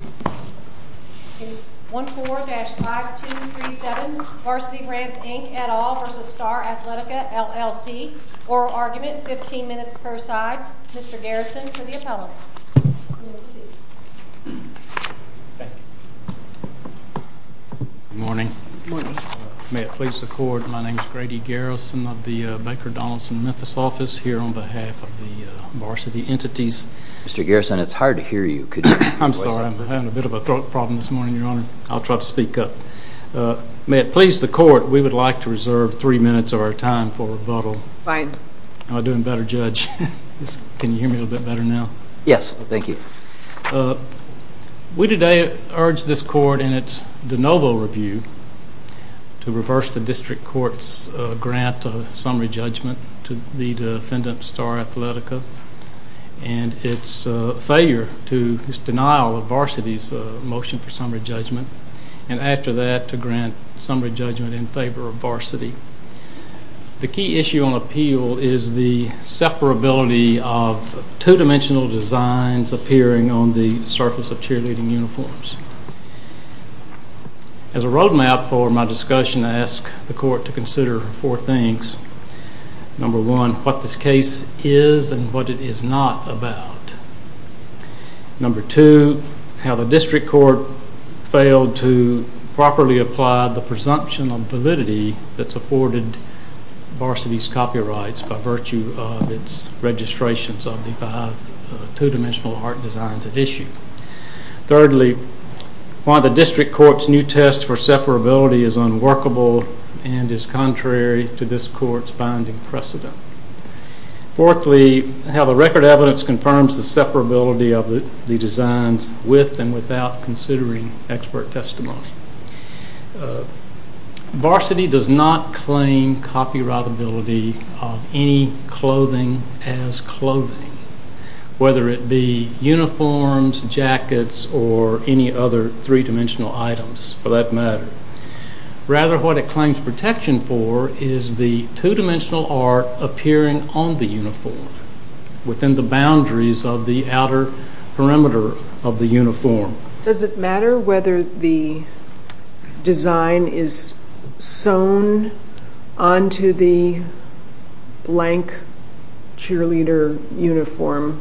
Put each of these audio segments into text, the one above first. It is 1-4-5-2-3-7. Varsity Brands, Inc. et al. v. Star Athletica, LLC. Oral argument, 15 minutes per side. Mr. Garrison for the appellants. Good morning. May it please the Court, my name is Grady Garrison of the Baker Donaldson Memphis office, here on behalf of the varsity entities. Mr. Garrison, it's hard to hear you. I'm sorry, I'm having a bit of a throat problem this morning, Your Honor. I'll try to speak up. May it please the Court, we would like to reserve three minutes of our time for rebuttal. Fine. Am I doing better, Judge? Can you hear me a little bit better now? Yes, thank you. We today urge this Court in its de novo review to reverse the District Court's grant of summary judgment to the defendant, Star Athletica, and its failure to deny all of Varsity's motion for summary judgment, and after that to grant summary judgment in favor of Varsity. The key issue on appeal is the separability of two-dimensional designs appearing on the surface of cheerleading uniforms. As a roadmap for my discussion, I ask the Court to consider four things. Number one, what this case is and what it is not about. Number two, how the District Court failed to properly apply the presumption of validity that supported Varsity's copyrights by virtue of its registrations of the two-dimensional art designs at issue. Thirdly, why the District Court's new test for separability is unworkable and is contrary to this Court's binding precedent. Fourthly, how the record evidence confirms the separability of the designs with and without considering expert testimony. Varsity does not claim copyrightability of any clothing as clothing, whether it be uniforms, jackets, or any other three-dimensional items for that matter. Rather, what it claims protection for is the two-dimensional art appearing on the uniform within the boundaries of the outer perimeter of the uniform. Does it matter whether the design is sewn onto the blank cheerleader uniform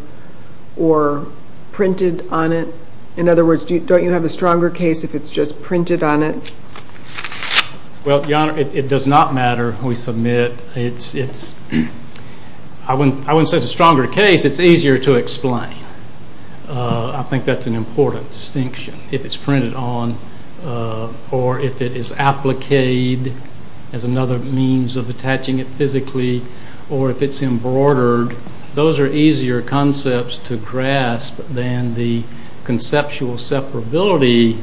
or printed on it? In other words, don't you have a stronger case if it's just printed on it? It does not matter. I wouldn't say it's a stronger case. It's easier to explain. I think that's an important distinction. If it's printed on or if it is appliqued as another means of attaching it physically or if it's embroidered, those are easier concepts to grasp than the conceptual separability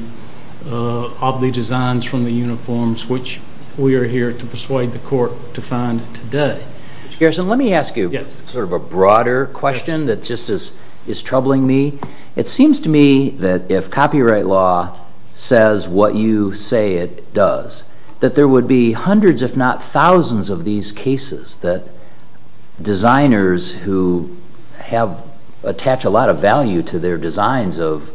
of the designs from the uniforms, which we are here to persuade the Court to find today. Mr. Garrison, let me ask you sort of a broader question that just is troubling me. It seems to me that if copyright law says what you say it does, that there would be hundreds if not thousands of these cases that designers who attach a lot of value to their designs of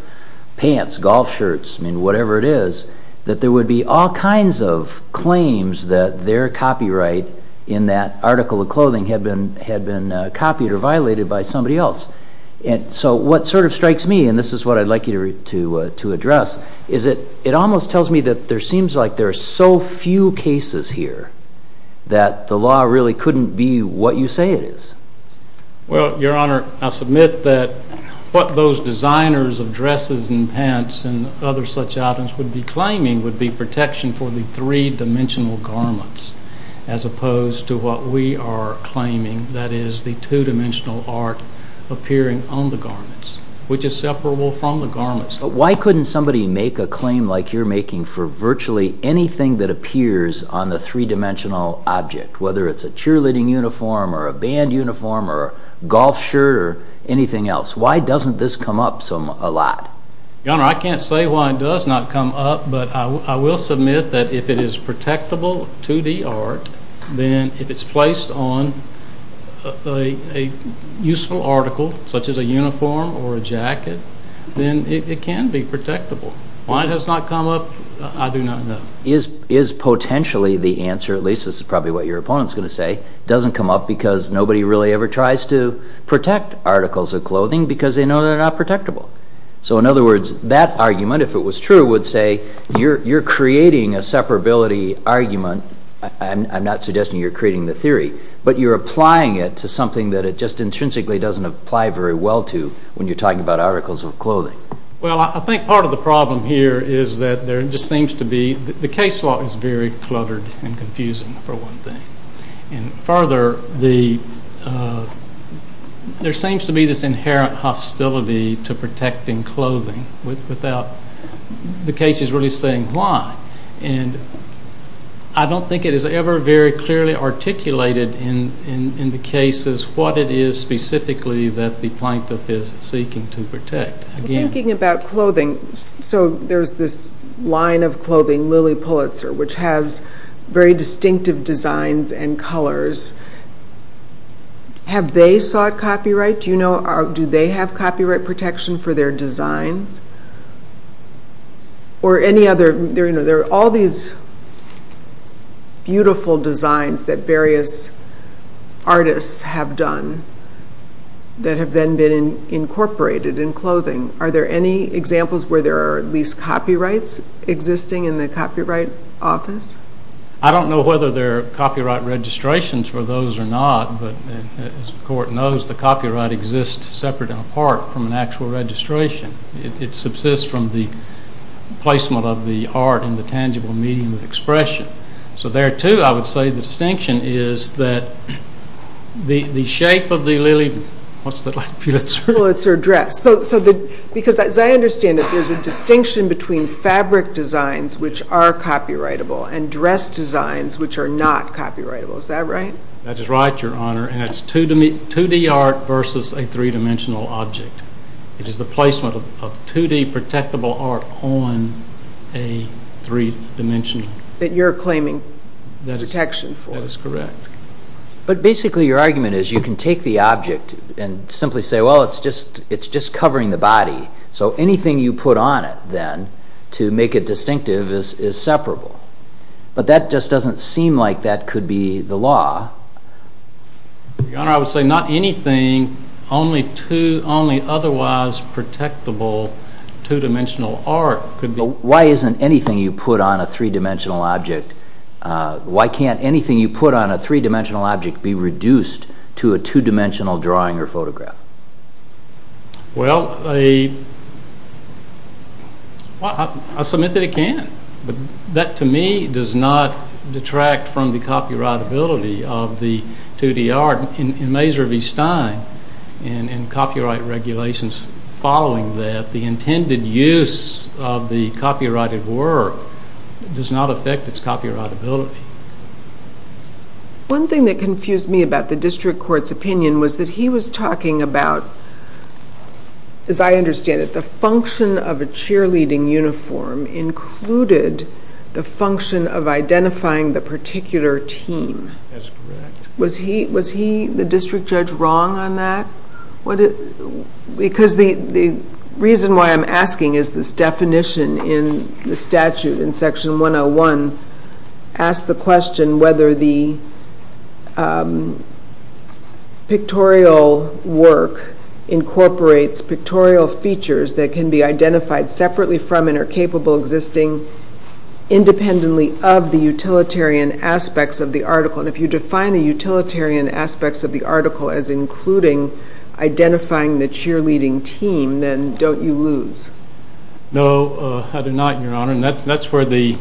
pants, golf shirts, whatever it is, that there would be all kinds of claims that their copyright in that article of clothing had been copied or violated by somebody else. So what sort of strikes me, and this is what I'd like you to address, is that it almost tells me that there seems like there are so few cases here that the law really couldn't be what you say it is. Well, Your Honor, I submit that what those designers of dresses and pants and other such items would be claiming would be protection for the three-dimensional garments, as opposed to what we are claiming, that is, the two-dimensional art appearing on the garments, which is separable from the garments. But why couldn't somebody make a claim like you're making for virtually anything that appears on the three-dimensional object, whether it's a cheerleading uniform or a band uniform or a golf shirt or anything else? Why doesn't this come up a lot? Your Honor, I can't say why it does not come up, but I will submit that if it is protectable to the art, then if it's placed on a useful article, such as a uniform or a jacket, then it can be protectable. Why it has not come up, I do not know. Is potentially the answer, at least this is probably what your opponent is going to say, doesn't come up because nobody really ever tries to protect articles of clothing because they know they're not protectable. So in other words, that argument, if it was true, would say you're creating a separability argument. I'm not suggesting you're creating the theory, but you're applying it to something that it just intrinsically doesn't apply very well to when you're talking about articles of clothing. Well, I think part of the problem here is that there just seems to be, the case law is very cluttered and confusing for one thing. And further, there seems to be this inherent hostility to protecting clothing without the cases really saying why. And I don't think it is ever very clearly articulated in the cases what it is specifically that the plaintiff is seeking to protect. Thinking about clothing, so there's this line of clothing, Lilly Pulitzer, which has very distinctive designs and colors. Have they sought copyright? Do they have copyright protection for their designs? Or any other? There are all these beautiful designs that various artists have done that have then been incorporated in clothing. Are there any examples where there are at least copyrights existing in the copyright office? I don't know whether there are copyright registrations for those or not, but as the court knows, the copyright exists separate and apart from an actual registration. It subsists from the placement of the art in the tangible medium of expression. So there, too, I would say the distinction is that the shape of the Lilly, what's the last Pulitzer? Pulitzer dress. Because as I understand it, there's a distinction between fabric designs which are copyrightable and dress designs which are not copyrightable. Is that right? That is right, Your Honor, and it's 2D art versus a three-dimensional object. It is the placement of 2D protectable art on a three-dimensional. That you're claiming protection for. That is correct. But basically your argument is you can take the object and simply say, well, it's just covering the body, so anything you put on it then to make it distinctive is separable. But that just doesn't seem like that could be the law. Your Honor, I would say not anything, only otherwise protectable two-dimensional art could be. Why isn't anything you put on a three-dimensional object, why can't anything you put on a three-dimensional object be reduced to a two-dimensional drawing or photograph? Well, I submit that it can, but that to me does not detract from the copyrightability of the 2D art. In Mazur v. Stein, in copyright regulations following that, the intended use of the copyrighted work does not affect its copyrightability. One thing that confused me about the district court's opinion was that he was talking about, as I understand it, the function of a cheerleading uniform included the function of identifying the particular team. That's correct. Was he, the district judge, wrong on that? Because the reason why I'm asking is this definition in the statute in section 101 asks the question whether the pictorial work incorporates pictorial features that can be identified separately from and are capable of existing independently of the utilitarian aspects of the article. If you define the utilitarian aspects of the article as including identifying the cheerleading team, then don't you lose? No, I do not, Your Honor. And that's where I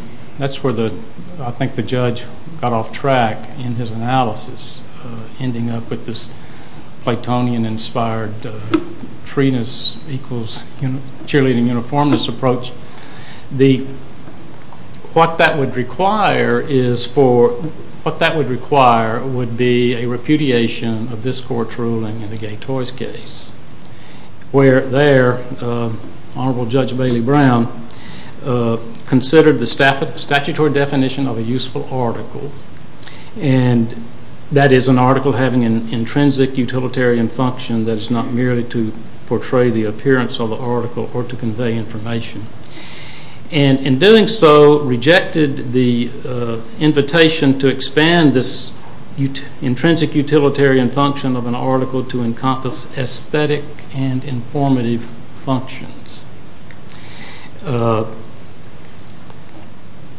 think the judge got off track in his analysis, ending up with this Platonian-inspired freeness equals cheerleading uniformness approach. What that would require would be a repudiation of this court's ruling in the Gay Toys case. Where there, Honorable Judge Bailey Brown, considered the statutory definition of a useful article, and that is an article having an intrinsic utilitarian function that is not merely to portray the appearance of the article or to convey information. In doing so, rejected the invitation to expand this intrinsic utilitarian function of an article to encompass aesthetic and informative functions.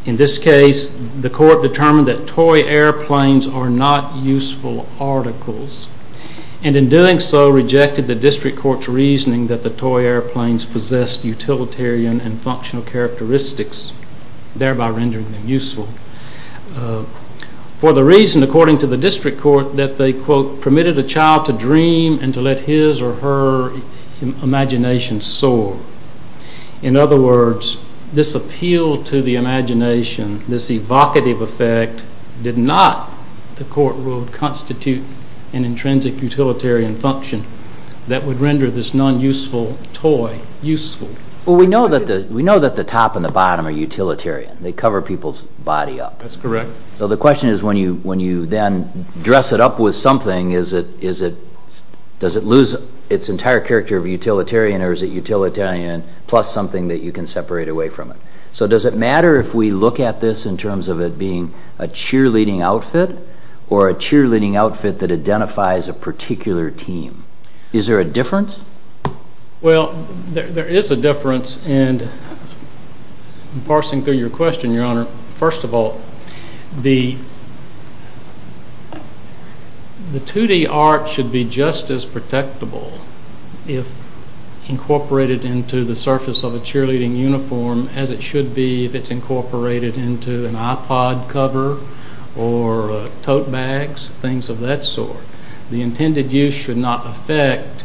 In this case, the court determined that toy airplanes are not useful articles. And in doing so, rejected the district court's reasoning that the toy airplanes possessed utilitarian and functional characteristics, thereby rendering them useful. For the reason, according to the district court, that they, quote, permitted a child to dream and to let his or her imagination soar. In other words, this appeal to the imagination, this evocative effect, did not, the court ruled, constitute an intrinsic utilitarian function that would render this non-useful toy useful. Well, we know that the top and the bottom are utilitarian. They cover people's body up. That's correct. So the question is, when you then dress it up with something, is it, does it lose its entire character of utilitarian or is it utilitarian plus something that you can separate away from it? So does it matter if we look at this in terms of it being a cheerleading outfit or a cheerleading outfit that identifies a particular team? Is there a difference? Well, there is a difference, and parsing through your question, Your Honor, first of all, the 2D art should be just as protectable if incorporated into the surface of a cheerleading uniform as it should be if it's incorporated into an iPod cover or tote bags, things of that sort. The intended use should not affect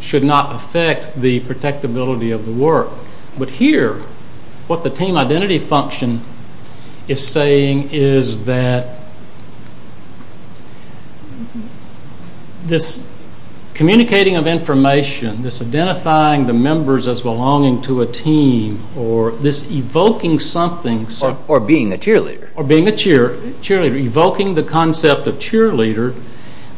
the protectability of the work. But here, what the team identity function is saying is that this communicating of information, this identifying the members as belonging to a team or this evoking something. Or being a cheerleader. Or being a cheerleader, evoking the concept of cheerleader,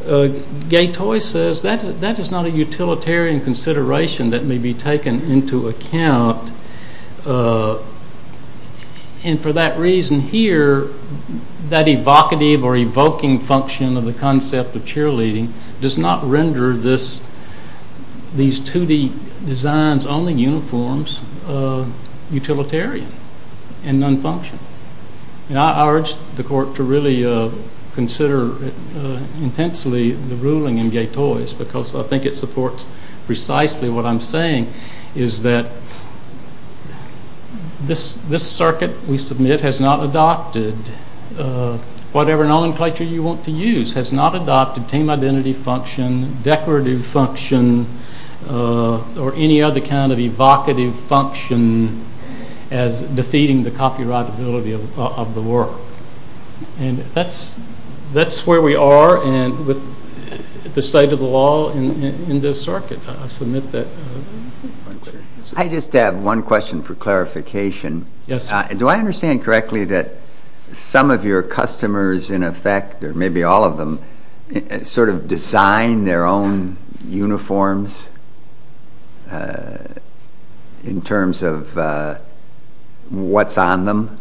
Gatoy says that is not a utilitarian consideration that may be taken into account. And for that reason here, that evocative or evoking function of the concept of cheerleading does not render these 2D designs on the uniforms utilitarian and non-functional. I urge the court to really consider intensely the ruling in Gatoy's because I think it supports precisely what I'm saying is that this circuit we submit has not adopted whatever nomenclature you want to use, has not adopted team identity function, decorative function, or any other kind of evocative function as defeating the copyrightability of the work. And that's where we are with the state of the law in this circuit. I just have one question for clarification. Do I understand correctly that some of your customers in effect, or maybe all of them, sort of design their own uniforms in terms of what's on them?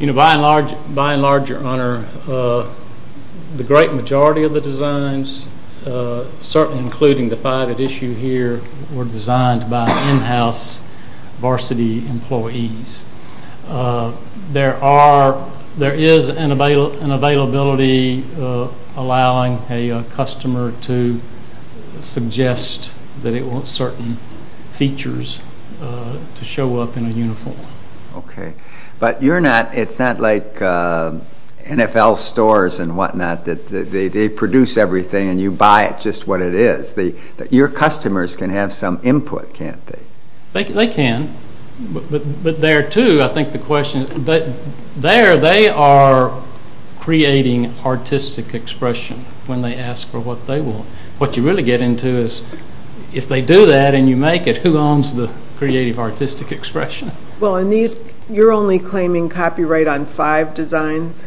By and large, your honor, the great majority of the designs, certainly including the 5 at issue here, were designed by in-house varsity employees. There is an availability allowing a customer to suggest that it wants certain features to show up in a uniform. Okay. But it's not like NFL stores and whatnot that they produce everything and you buy it just what it is. Your customers can have some input, can't they? They can. But there too, I think the question is there they are creating artistic expression when they ask for what they want. What you really get into is if they do that and you make it, who owns the creative artistic expression? Well, you're only claiming copyright on 5 designs?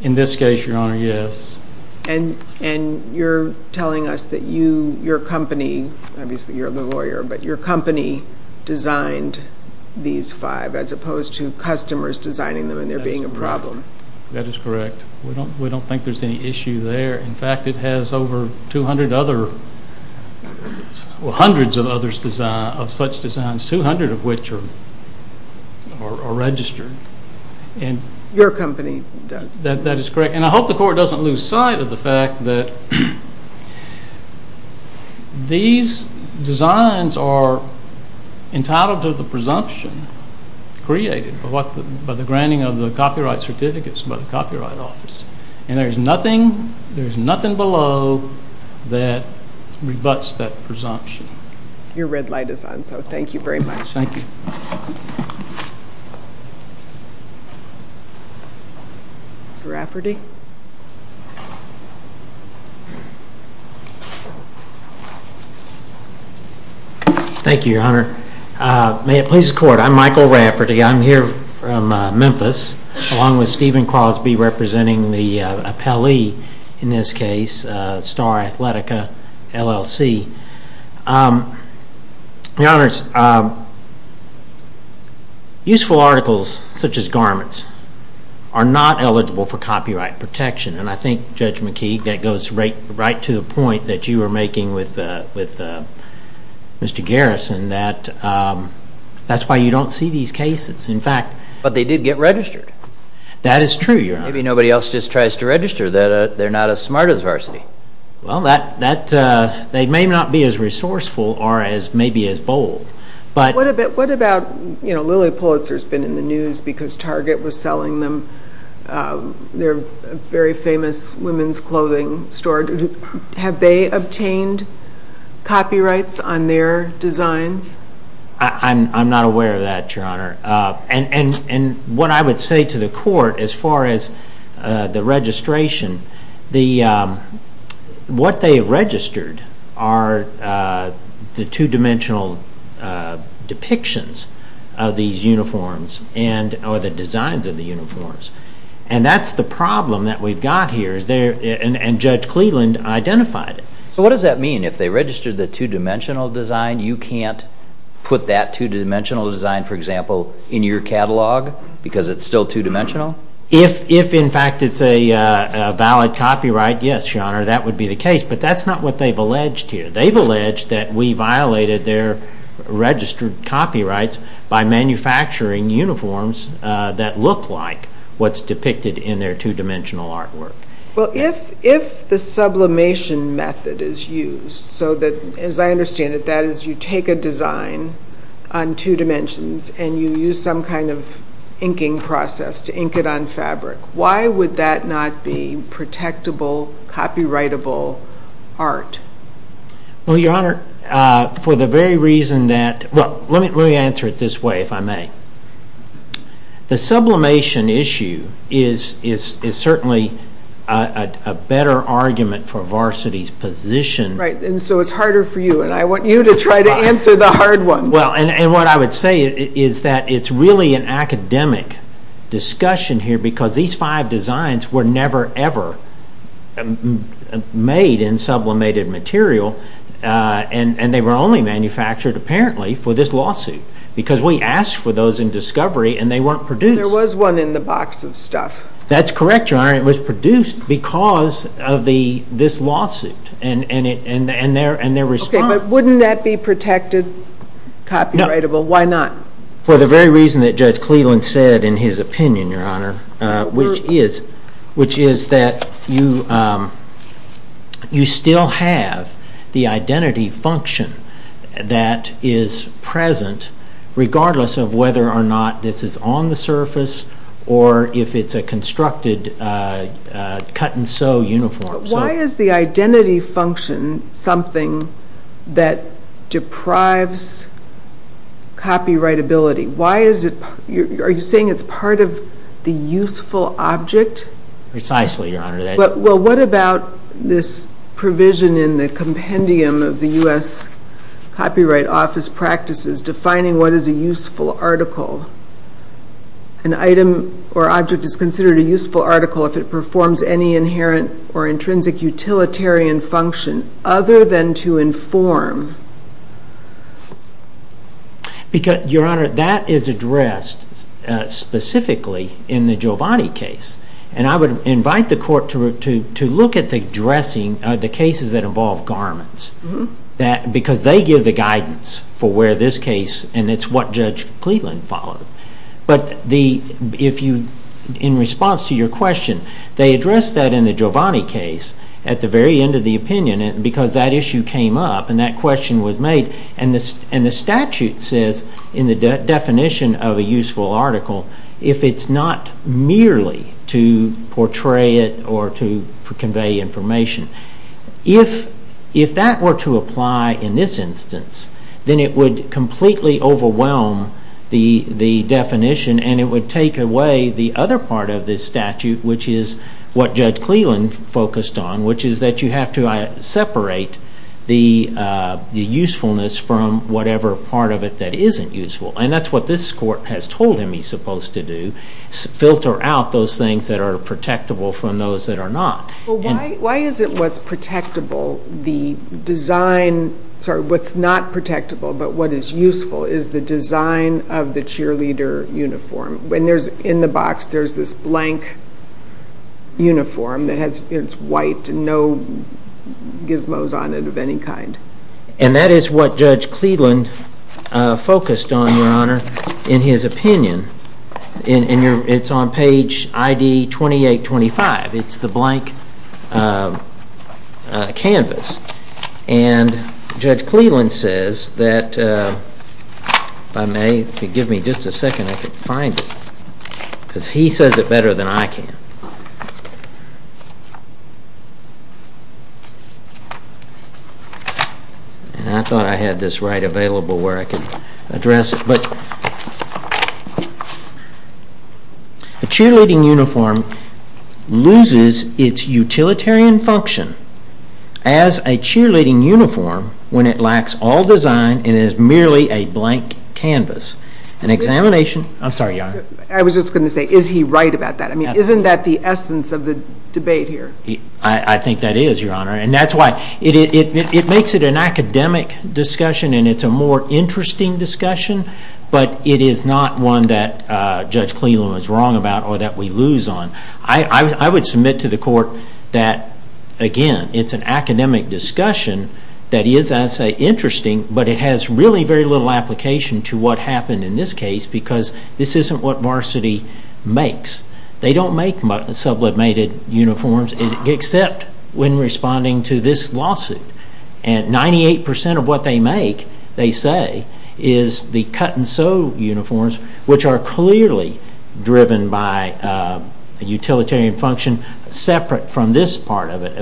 In this case, your honor, yes. And you're telling us that your company, obviously you're the lawyer, but your company designed these 5 as opposed to customers designing them and there being a problem. That is correct. We don't think there's any issue there. In fact, it has over 200 other, well, hundreds of such designs, 200 of which are registered. Your company does. That is correct. And I hope the court doesn't lose sight of the fact that these designs are entitled to the presumption created by the granting of the copyright certificates by the Copyright Office. And there's nothing below that rebutts that presumption. Your red light is on, so thank you very much. Thank you. Mr. Rafferty? Thank you, your honor. May it please the court. I'm Michael Rafferty. I'm here from Memphis, along with Stephen Crosby, representing the appellee in this case, Star Athletica, LLC. Your honors, useful articles, such as garments, are not eligible for copyright protection. And I think, Judge McKee, that goes right to the point that you were making with Mr. Garrison, that that's why you don't see these cases. In fact... But they did get registered. That is true, your honor. Maybe nobody else just tries to register. They're not as smart as Varsity. Well, they may not be as resourceful or maybe as bold. What about, you know, Lilly Pulitzer's been in the news because Target was selling them their very famous women's clothing store. Have they obtained copyrights on their designs? I'm not aware of that, your honor. And what I would say to the court, as far as the registration, what they registered are the two-dimensional depictions of these uniforms or the designs of the uniforms. And that's the problem that we've got here. And Judge Cleveland identified it. So what does that mean? If they registered the two-dimensional design, you can't put that two-dimensional design, for example, in your catalog because it's still two-dimensional? If, in fact, it's a valid copyright, yes, your honor, that would be the case. But that's not what they've alleged here. They've alleged that we violated their registered copyrights by manufacturing uniforms that look like what's depicted in their two-dimensional artwork. Well, if the sublimation method is used, so that, as I understand it, that is you take a design on two dimensions and you use some kind of inking process to ink it on fabric, why would that not be protectable, copyrightable art? Well, your honor, for the very reason that, well, let me answer it this way, if I may. The sublimation issue is certainly a better argument for Varsity's position. Right, and so it's harder for you, and I want you to try to answer the hard one. Well, and what I would say is that it's really an academic discussion here because these five designs were never ever made in sublimated material, and they were only manufactured, apparently, for this lawsuit because we asked for those in discovery and they weren't produced. There was one in the box of stuff. That's correct, your honor. It was produced because of this lawsuit and their response. Okay, but wouldn't that be protected, copyrightable? Why not? For the very reason that Judge Cleveland said in his opinion, your honor, which is that you still have the identity function that is present regardless of whether or not this is on the surface or if it's a constructed cut-and-sew uniform. Why is the identity function something that deprives copyrightability? Are you saying it's part of the useful object? Precisely, your honor. Well, what about this provision in the compendium of the U.S. Copyright Office Practices defining what is a useful article? An item or object is considered a useful article if it performs any inherent or intrinsic utilitarian function other than to inform. Your honor, that is addressed specifically in the Giovanni case. And I would invite the court to look at the addressing of the cases that involve garments because they give the guidance for where this case and it's what Judge Cleveland followed. But in response to your question, they addressed that in the Giovanni case at the very end of the opinion because that issue came up and that question was made. And the statute says in the definition of a useful article if it's not merely to portray it or to convey information. If that were to apply in this instance, then it would completely overwhelm the definition and it would take away the other part of this statute which is what Judge Cleveland focused on which is that you have to separate the usefulness from whatever part of it that isn't useful. And that's what this court has told him he's supposed to do, filter out those things that are protectable from those that are not. Why is it what's not protectable but what is useful is the design of the cheerleader uniform? In the box there's this blank uniform that's white and no gizmos on it of any kind. And that is what Judge Cleveland focused on, Your Honor, in his opinion. It's on page ID 2825. It's the blank canvas. And Judge Cleveland says that, if I may, if you give me just a second I can find it because he says it better than I can. And I thought I had this right available where I could address it. A cheerleading uniform loses its utilitarian function as a cheerleading uniform when it lacks all design and is merely a blank canvas. An examination... I'm sorry, Your Honor. I was just going to say, is he right about that? I mean, isn't that the essence of the debate here? I think that is, Your Honor. And that's why it makes it an academic discussion and it's a more interesting discussion, but it is not one that Judge Cleveland was wrong about or that we lose on. I would submit to the court that, again, it's an academic discussion that is, I'd say, interesting, but it has really very little application to what happened in this case because this isn't what Varsity makes. They don't make sublimated uniforms except when responding to this lawsuit. And 98% of what they make, they say, is the cut-and-sew uniforms, which are clearly driven by a utilitarian function separate from this part of it.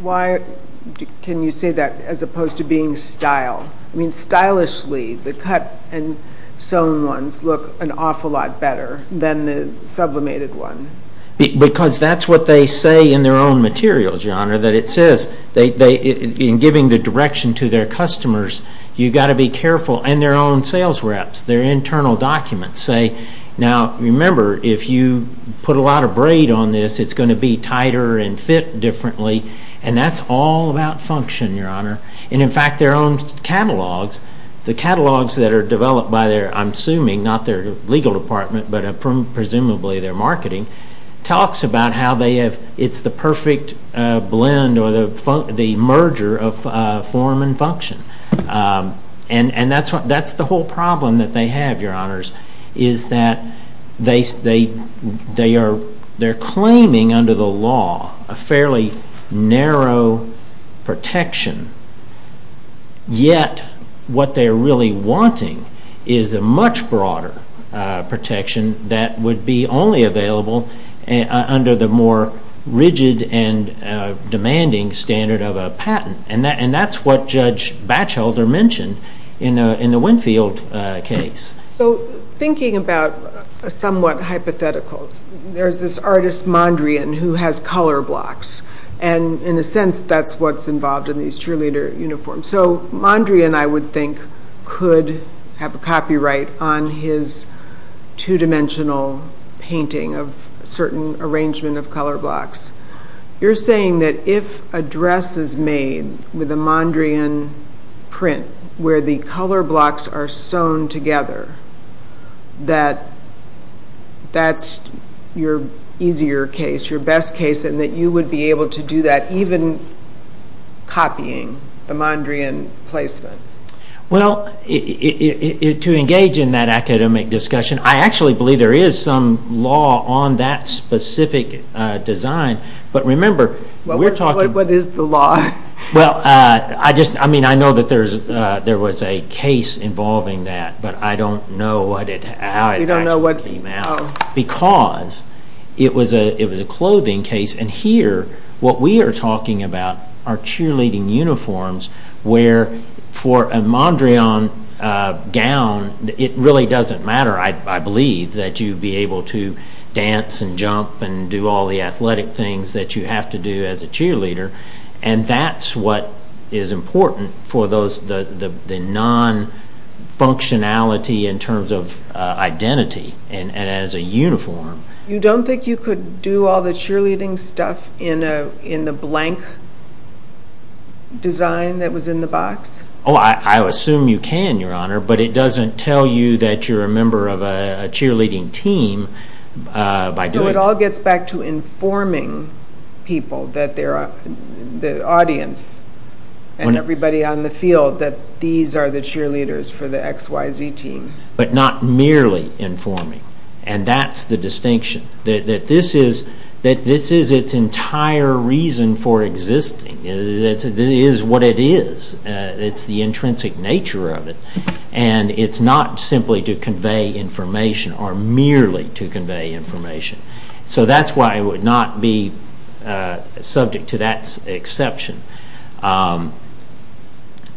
Why can you say that as opposed to being style? I mean, stylishly, the cut-and-sewn ones look an awful lot better than the sublimated one. Because that's what they say in their own materials, Your Honor, that it says, in giving the direction to their customers, you've got to be careful. And their own sales reps, their internal documents say, now, remember, if you put a lot of braid on this, it's going to be tighter and fit differently. And that's all about function, Your Honor. And in fact, their own catalogs, the catalogs that are developed by their, I'm assuming, not their legal department, but presumably their marketing, talks about how it's the perfect blend or the merger of form and function. And that's the whole problem that they have, Your Honors, is that they're claiming under the law a fairly narrow protection. Yet what they're really wanting is a much broader protection that would be only available under the more rigid and demanding standard of a patent. And that's what Judge Batchelder mentioned in the Winfield case. So thinking about a somewhat hypothetical, there's this artist Mondrian who has color blocks. And in a sense, that's what's involved in these cheerleader uniforms. So Mondrian, I would think, could have a copyright on his two-dimensional painting of a certain arrangement of color blocks. You're saying that if a dress is made with a Mondrian print, where the color blocks are sewn together, that that's your easier case, your best case, and that you would be able to do that, even copying the Mondrian placement? Well, to engage in that academic discussion, I actually believe there is some law on that specific design. But remember, we're talking... What is the law? Well, I know that there was a case involving that, but I don't know how it actually came out. Because it was a clothing case. And here, what we are talking about are cheerleading uniforms where for a Mondrian gown, it really doesn't matter, I believe, that you'd be able to dance and jump and do all the athletic things that you have to do as a cheerleader. And that's what is important for the non-functionality in terms of identity and as a uniform. You don't think you could do all the cheerleading stuff in the blank design that was in the box? Oh, I assume you can, Your Honor, but it doesn't tell you that you're a member of a cheerleading team by doing... So it all gets back to informing people, the audience and everybody on the field that these are the cheerleaders for the XYZ team. But not merely informing. And that's the distinction. That this is its entire reason for existing. It is what it is. It's the intrinsic nature of it. And it's not simply to convey information or merely to convey information. So that's why I would not be subject to that exception.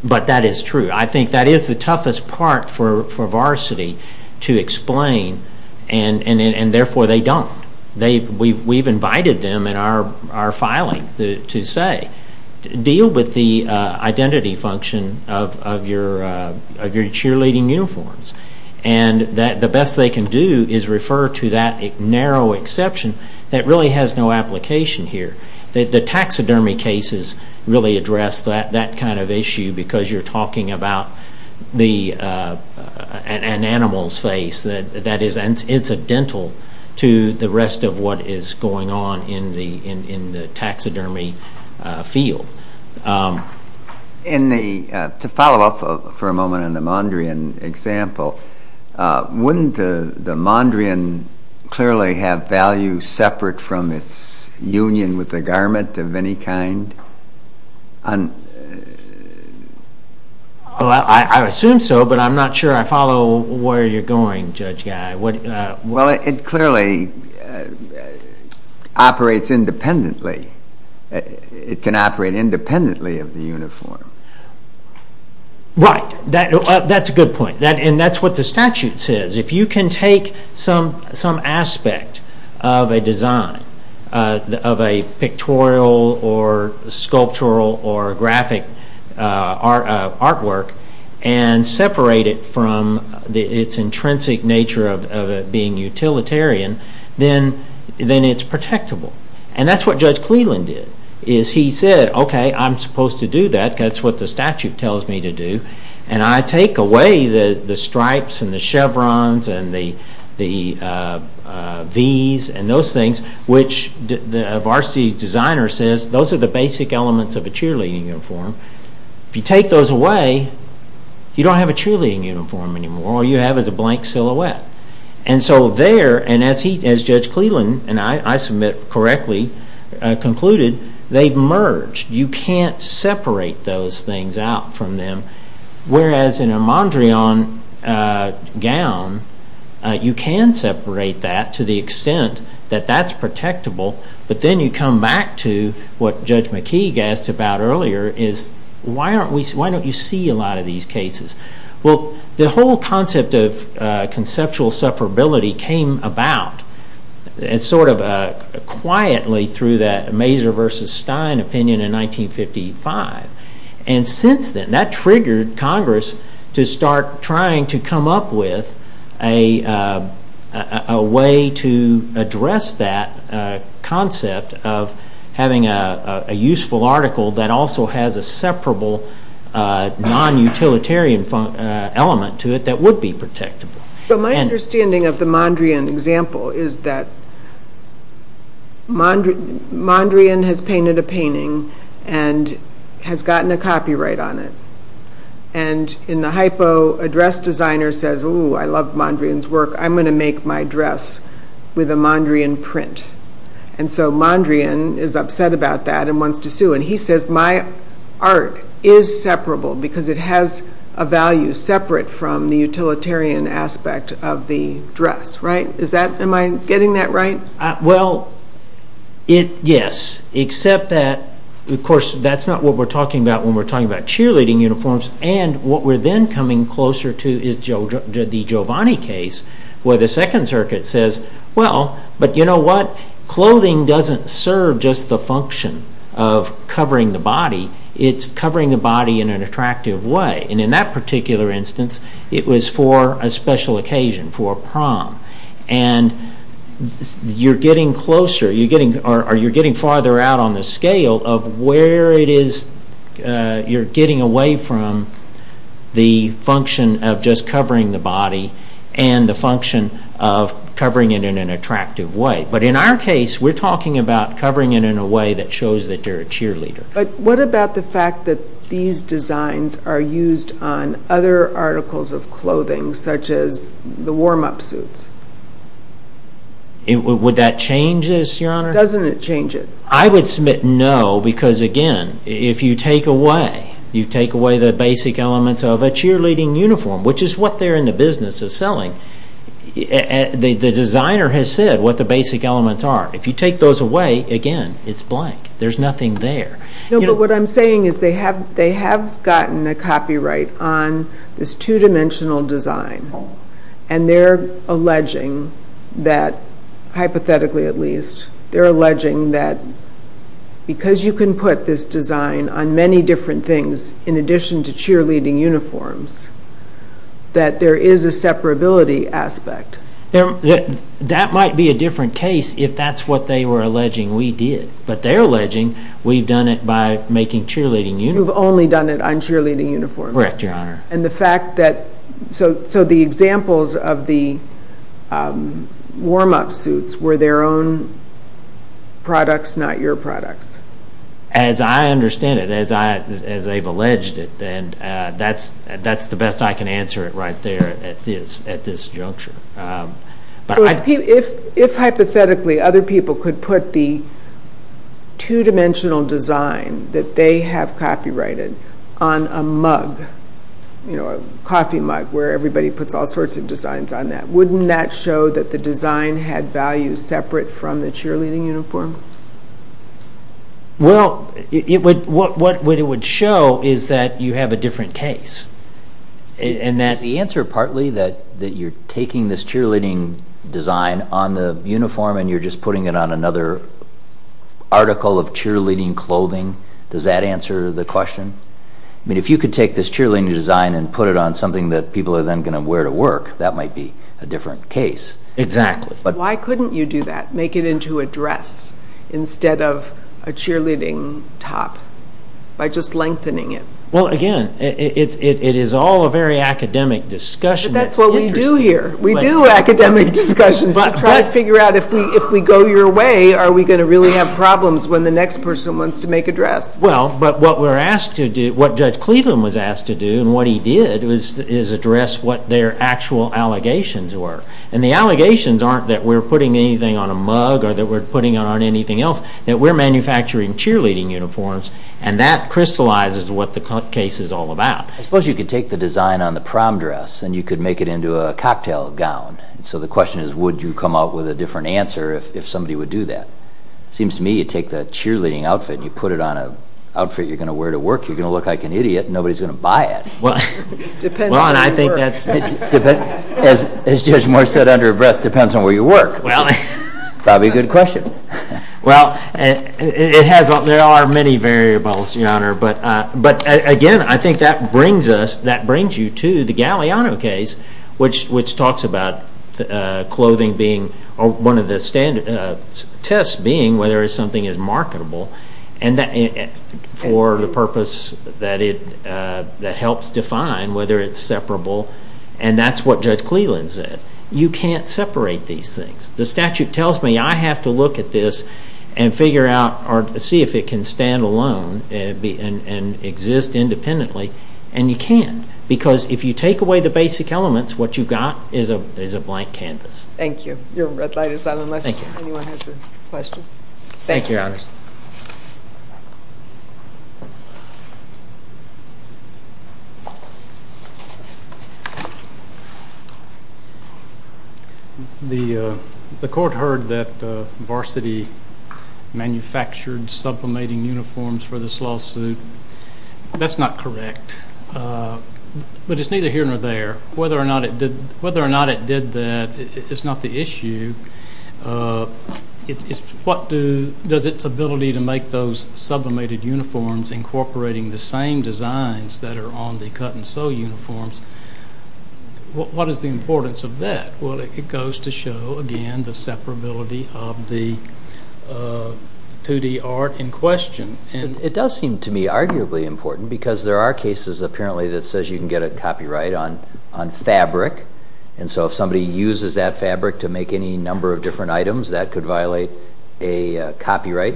But that is true. I think that is the toughest part for varsity to explain, and therefore they don't. We've invited them in our filing to say, deal with the identity function of your cheerleading uniforms. And the best they can do is refer to that narrow exception that really has no application here. The taxidermy cases really address that kind of issue because you're talking about an animal's face that is incidental to the rest of what is going on in the taxidermy field. To follow up for a moment on the Mondrian example, wouldn't the Mondrian clearly have value separate from its union with the garment of any kind? I assume so, but I'm not sure I follow where you're going, Judge Guy. Well, it clearly operates independently. It can operate independently of the uniform. Right. That's a good point. And that's what the statute says. If you can take some aspect of a design, of a pictorial or sculptural or graphic artwork, and separate it from its intrinsic nature of it being utilitarian, then it's protectable. And that's what Judge Cleland did. He said, OK, I'm supposed to do that. That's what the statute tells me to do. And I take away the stripes and the chevrons and the Vs and those things, which a varsity designer says those are the basic elements of a cheerleading uniform. If you take those away, you don't have a cheerleading uniform anymore. All you have is a blank silhouette. And so there, as Judge Cleland and I submit correctly concluded, they've merged. You can't separate those things out from them. Whereas in a Mondrian gown, you can separate that to the extent that that's protectable. But then you come back to what Judge McKeague asked about earlier, is why don't you see a lot of these cases? Well, the whole concept of conceptual separability came about sort of quietly through that Mazur v. Stein opinion in 1955. And since then, that triggered Congress to start trying to come up with a way to address that concept of having a useful article that also has a separable non-utilitarian element to it that would be protectable. So my understanding of the Mondrian example is that Mondrian has painted a painting and has gotten a copyright on it. And in the hypo, a dress designer says, ooh, I love Mondrian's work. I'm going to make my dress with a Mondrian print. And so Mondrian is upset about that and wants to sue. And he says, my art is separable because it has a value separate from the utilitarian aspect of the dress. Am I getting that right? Well, yes, except that, of course, that's not what we're talking about when we're talking about cheerleading uniforms. And what we're then coming closer to is the Giovanni case where the Second Circuit says, well, but you know what? It's covering the body in an attractive way. And in that particular instance, it was for a special occasion, for a prom. And you're getting farther out on the scale of where it is you're getting away from the function of just covering the body and the function of covering it in an attractive way. But in our case, we're talking about covering it in a way that shows that you're a cheerleader. But what about the fact that these designs are used on other articles of clothing, such as the warm-up suits? Would that change this, Your Honor? Doesn't it change it? I would submit no, because again, if you take away, you take away the basic elements of a cheerleading uniform, which is what they're in the business of selling, the designer has said what the basic elements are. If you take those away, again, it's blank. There's nothing there. No, but what I'm saying is they have gotten a copyright on this two-dimensional design, and they're alleging that, hypothetically at least, they're alleging that because you can put this design on many different things, in addition to cheerleading uniforms, that there is a separability aspect. That might be a different case if that's what they were alleging we did. But they're alleging we've done it by making cheerleading uniforms. You've only done it on cheerleading uniforms. Correct, Your Honor. And the fact that... So the examples of the warm-up suits were their own products, not your products. As I understand it, as they've alleged it, and that's the best I can answer it right there at this juncture. If hypothetically other people could put the two-dimensional design that they have copyrighted on a mug, a coffee mug, where everybody puts all sorts of designs on that, wouldn't that show that the design had value separate from the cheerleading uniform? Well, what it would show is that you have a different case. And that... Is the answer partly that you're taking this cheerleading design on the uniform and you're just putting it on another article of cheerleading clothing? Does that answer the question? I mean, if you could take this cheerleading design and put it on something that people are then going to wear to work, that might be a different case. Exactly. Why couldn't you do that? Make it into a dress instead of a cheerleading top by just lengthening it? Well, again, it is all a very academic discussion. But that's what we do here. We do academic discussions to try to figure out if we go your way, are we going to really have problems when the next person wants to make a dress? Well, but what we're asked to do, what Judge Cleveland was asked to do and what he did is address what their actual allegations were. And the allegations aren't that we're putting anything on a mug or that we're putting it on anything else, that we're manufacturing cheerleading uniforms and that crystallizes what the case is all about. I suppose you could take the design on the prom dress and you could make it into a cocktail gown. So the question is would you come up with a different answer if somebody would do that? It seems to me you take that cheerleading outfit and you put it on an outfit you're going to wear to work, you're going to look like an idiot and nobody's going to buy it. Well, and I think that's... As Judge Moore said, under breath depends on where you work. It's probably a good question. Well, there are many variables, Your Honor, but again, I think that brings you to the Galeano case which talks about clothing being, one of the tests being whether something is marketable for the purpose that it helps define whether it's separable and that's what Judge Cleland said. You can't separate these things. The statute tells me I have to look at this and figure out or see if it can stand alone and exist independently, and you can't because if you take away the basic elements, what you've got is a blank canvas. Thank you. Your red light is on unless anyone has a question. Thank you, Your Honor. The court heard that Varsity manufactured sublimating uniforms for this lawsuit. That's not correct, but it's neither here nor there. Whether or not it did that is not the issue. What does its ability to make those sublimated uniforms incorporating the same designs that are on the cut-and-sew uniforms what is the importance of that? Well, it goes to show, again, the separability of the 2-D art in question. It does seem to me arguably important because there are cases apparently that says you can get a copyright on fabric and so if somebody uses that fabric to make any number of different items that could violate a copyright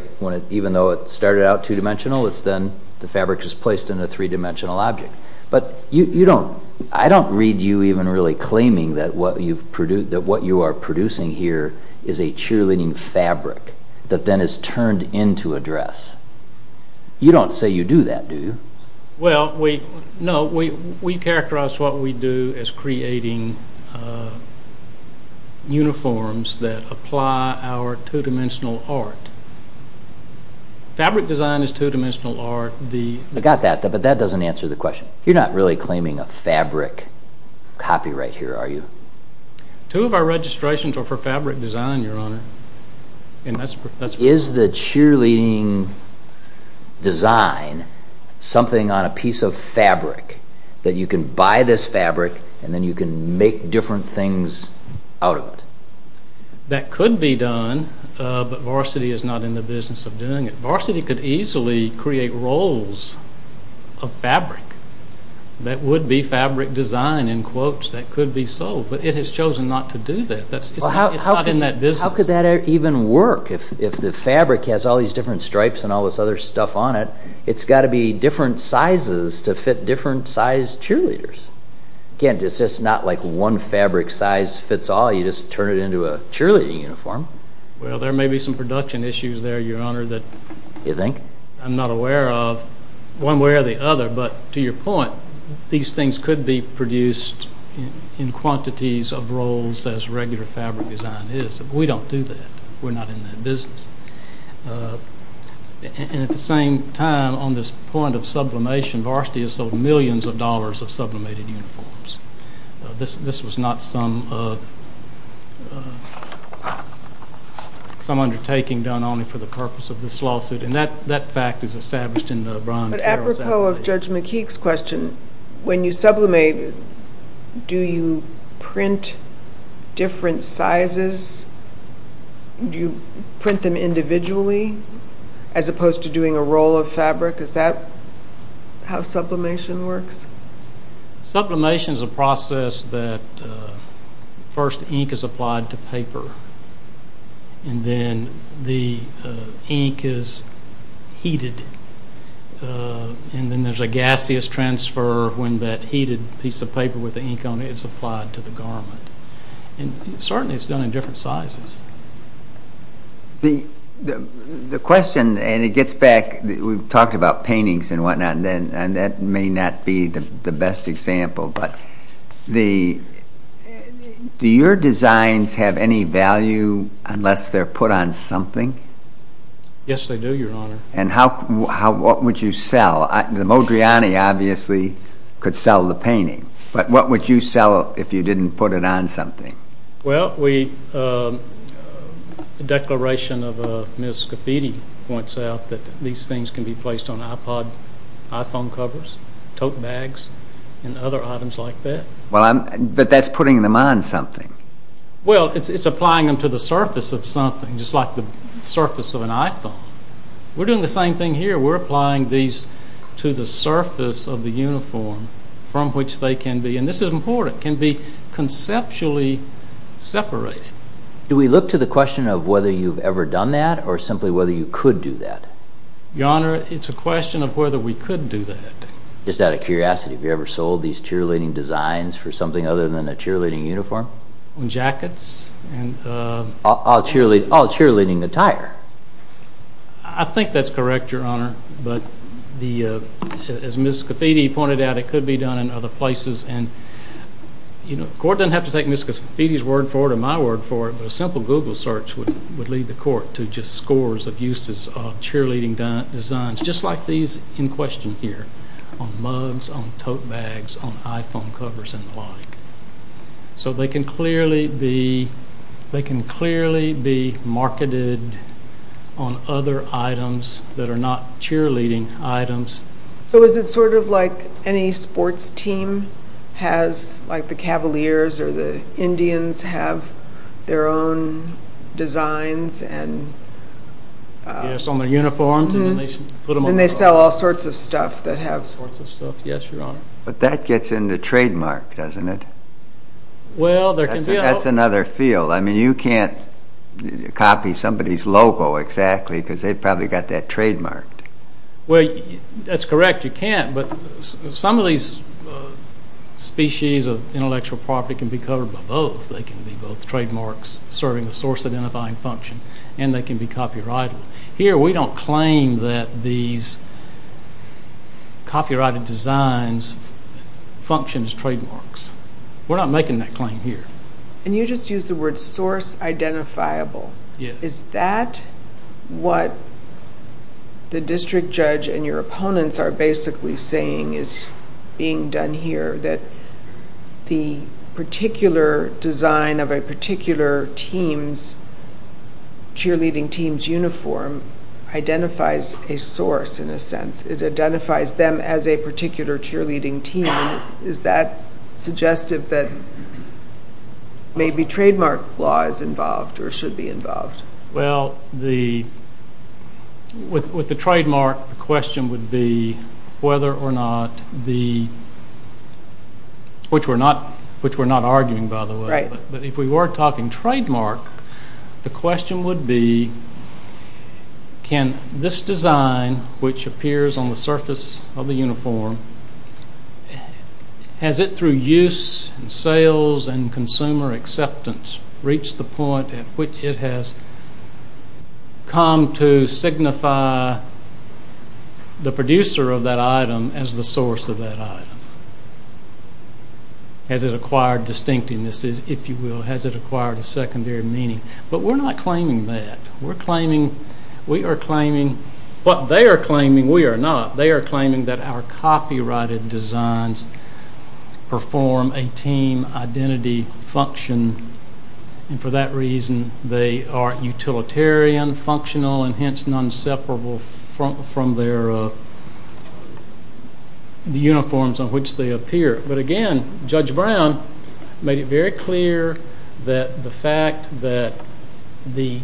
even though it started out two-dimensional it's then the fabric is placed in a three-dimensional object. But I don't read you even really claiming that what you are producing here is a cheerleading fabric that then is turned into a dress. You don't say you do that, do you? Well, no, we characterize what we do as creating uniforms that apply our two-dimensional art. Fabric design is two-dimensional art. I got that, but that doesn't answer the question. You're not really claiming a fabric copyright here, are you? Two of our registrations are for fabric design, Your Honor. Is the cheerleading design something on a piece of fabric that you can buy this fabric and then you can make different things out of it? That could be done, but Varsity is not in the business of doing it. Varsity could easily create rolls of fabric that would be fabric design in quotes that could be sold, but it has chosen not to do that. It's not in that business. How could that even work? If the fabric has all these different stripes and all this other stuff on it, it's got to be different sizes to fit different size cheerleaders. Again, it's just not like one fabric size fits all. You just turn it into a cheerleading uniform. Well, there may be some production issues there, Your Honor, that I'm not aware of one way or the other, but to your point, these things could be produced in quantities of rolls as regular fabric design is. We don't do that. We're not in that business. At the same time, on this point of sublimation, Varsity has sold millions of dollars of sublimated uniforms. This was not some undertaking done only for the purpose of this lawsuit, and that fact is established in Brian Carroll's actions. But apropos of Judge McKeek's question, when you sublimate, do you print different sizes? Do you print them individually as opposed to doing a roll of fabric? Is that how sublimation works? Sublimation is a process that first ink is applied to paper, and then the ink is heated, and then there's a gaseous transfer when that heated piece of paper with the ink on it is applied to the garment. Certainly it's done in different sizes. The question, and it gets back, we've talked about paintings and whatnot, and that may not be the best example, but do your designs have any value unless they're put on something? Yes, they do, Your Honor. And what would you sell? The Modriani obviously could sell the painting, but what would you sell if you didn't put it on something? Well, the declaration of Ms. Scafidi points out that these things can be placed on iPod, iPhone covers, tote bags, and other items like that. But that's putting them on something. Well, it's applying them to the surface of something, just like the surface of an iPhone. We're doing the same thing here. We're applying these to the surface of the uniform from which they can be, and this is important, can be conceptually separated. Do we look to the question of whether you've ever done that or simply whether you could do that? Your Honor, it's a question of whether we could do that. Just out of curiosity, have you ever sold these cheerleading designs for something other than a cheerleading uniform? Jackets. All cheerleading attire. I think that's correct, Your Honor, but as Ms. Scafidi pointed out, it could be done in other places. The court doesn't have to take Ms. Scafidi's word for it or my word for it, but a simple Google search would lead the court to just scores of uses of cheerleading designs, just like these in question here, on mugs, on tote bags, on iPhone covers and the like. So they can clearly be marketed on other items that are not cheerleading items. So is it sort of like any sports team has, like the Cavaliers or the Indians have their own designs? Yes, on their uniforms. And they sell all sorts of stuff that have... All sorts of stuff, yes, Your Honor. But that gets in the trademark, doesn't it? Well, there can be... That's another field. I mean, you can't copy somebody's logo exactly because they've probably got that trademarked. Well, that's correct, you can't, but some of these species of intellectual property can be covered by both. They can be both trademarks serving a source-identifying function and they can be copyrighted. Here we don't claim that these copyrighted designs function as trademarks. We're not making that claim here. And you just used the word source-identifiable. Yes. Is that what the district judge and your opponents are basically saying is being done here, that the particular design of a particular team's cheerleading team's uniform identifies a source in a sense? It identifies them as a particular cheerleading team. Is that suggestive that maybe trademark law is involved or should be involved? Well, with the trademark, the question would be whether or not the... which we're not arguing, by the way. Right. But if we were talking trademark, the question would be, can this design, which appears on the surface of the uniform, has it through use and sales and consumer acceptance reached the point at which it has come to signify the producer of that item as the source of that item? Has it acquired distinctiveness, if you will? Has it acquired a secondary meaning? But we're not claiming that. We are claiming what they are claiming we are not. They are claiming that our copyrighted designs perform a team identity function, and for that reason they are utilitarian, functional, and hence non-separable from the uniforms on which they appear. But again, Judge Brown made it very clear that the fact that the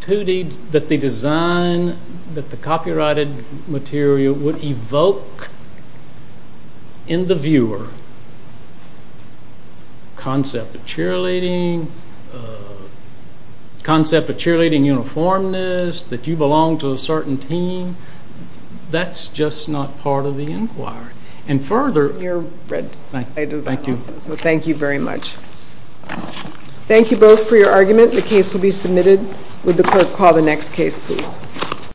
design, that the copyrighted material would evoke in the viewer concept of cheerleading, concept of cheerleading uniformness, that you belong to a certain team, that's just not part of the inquiry. And further... Thank you both for your argument. The case will be submitted. Would the court call the next case, please?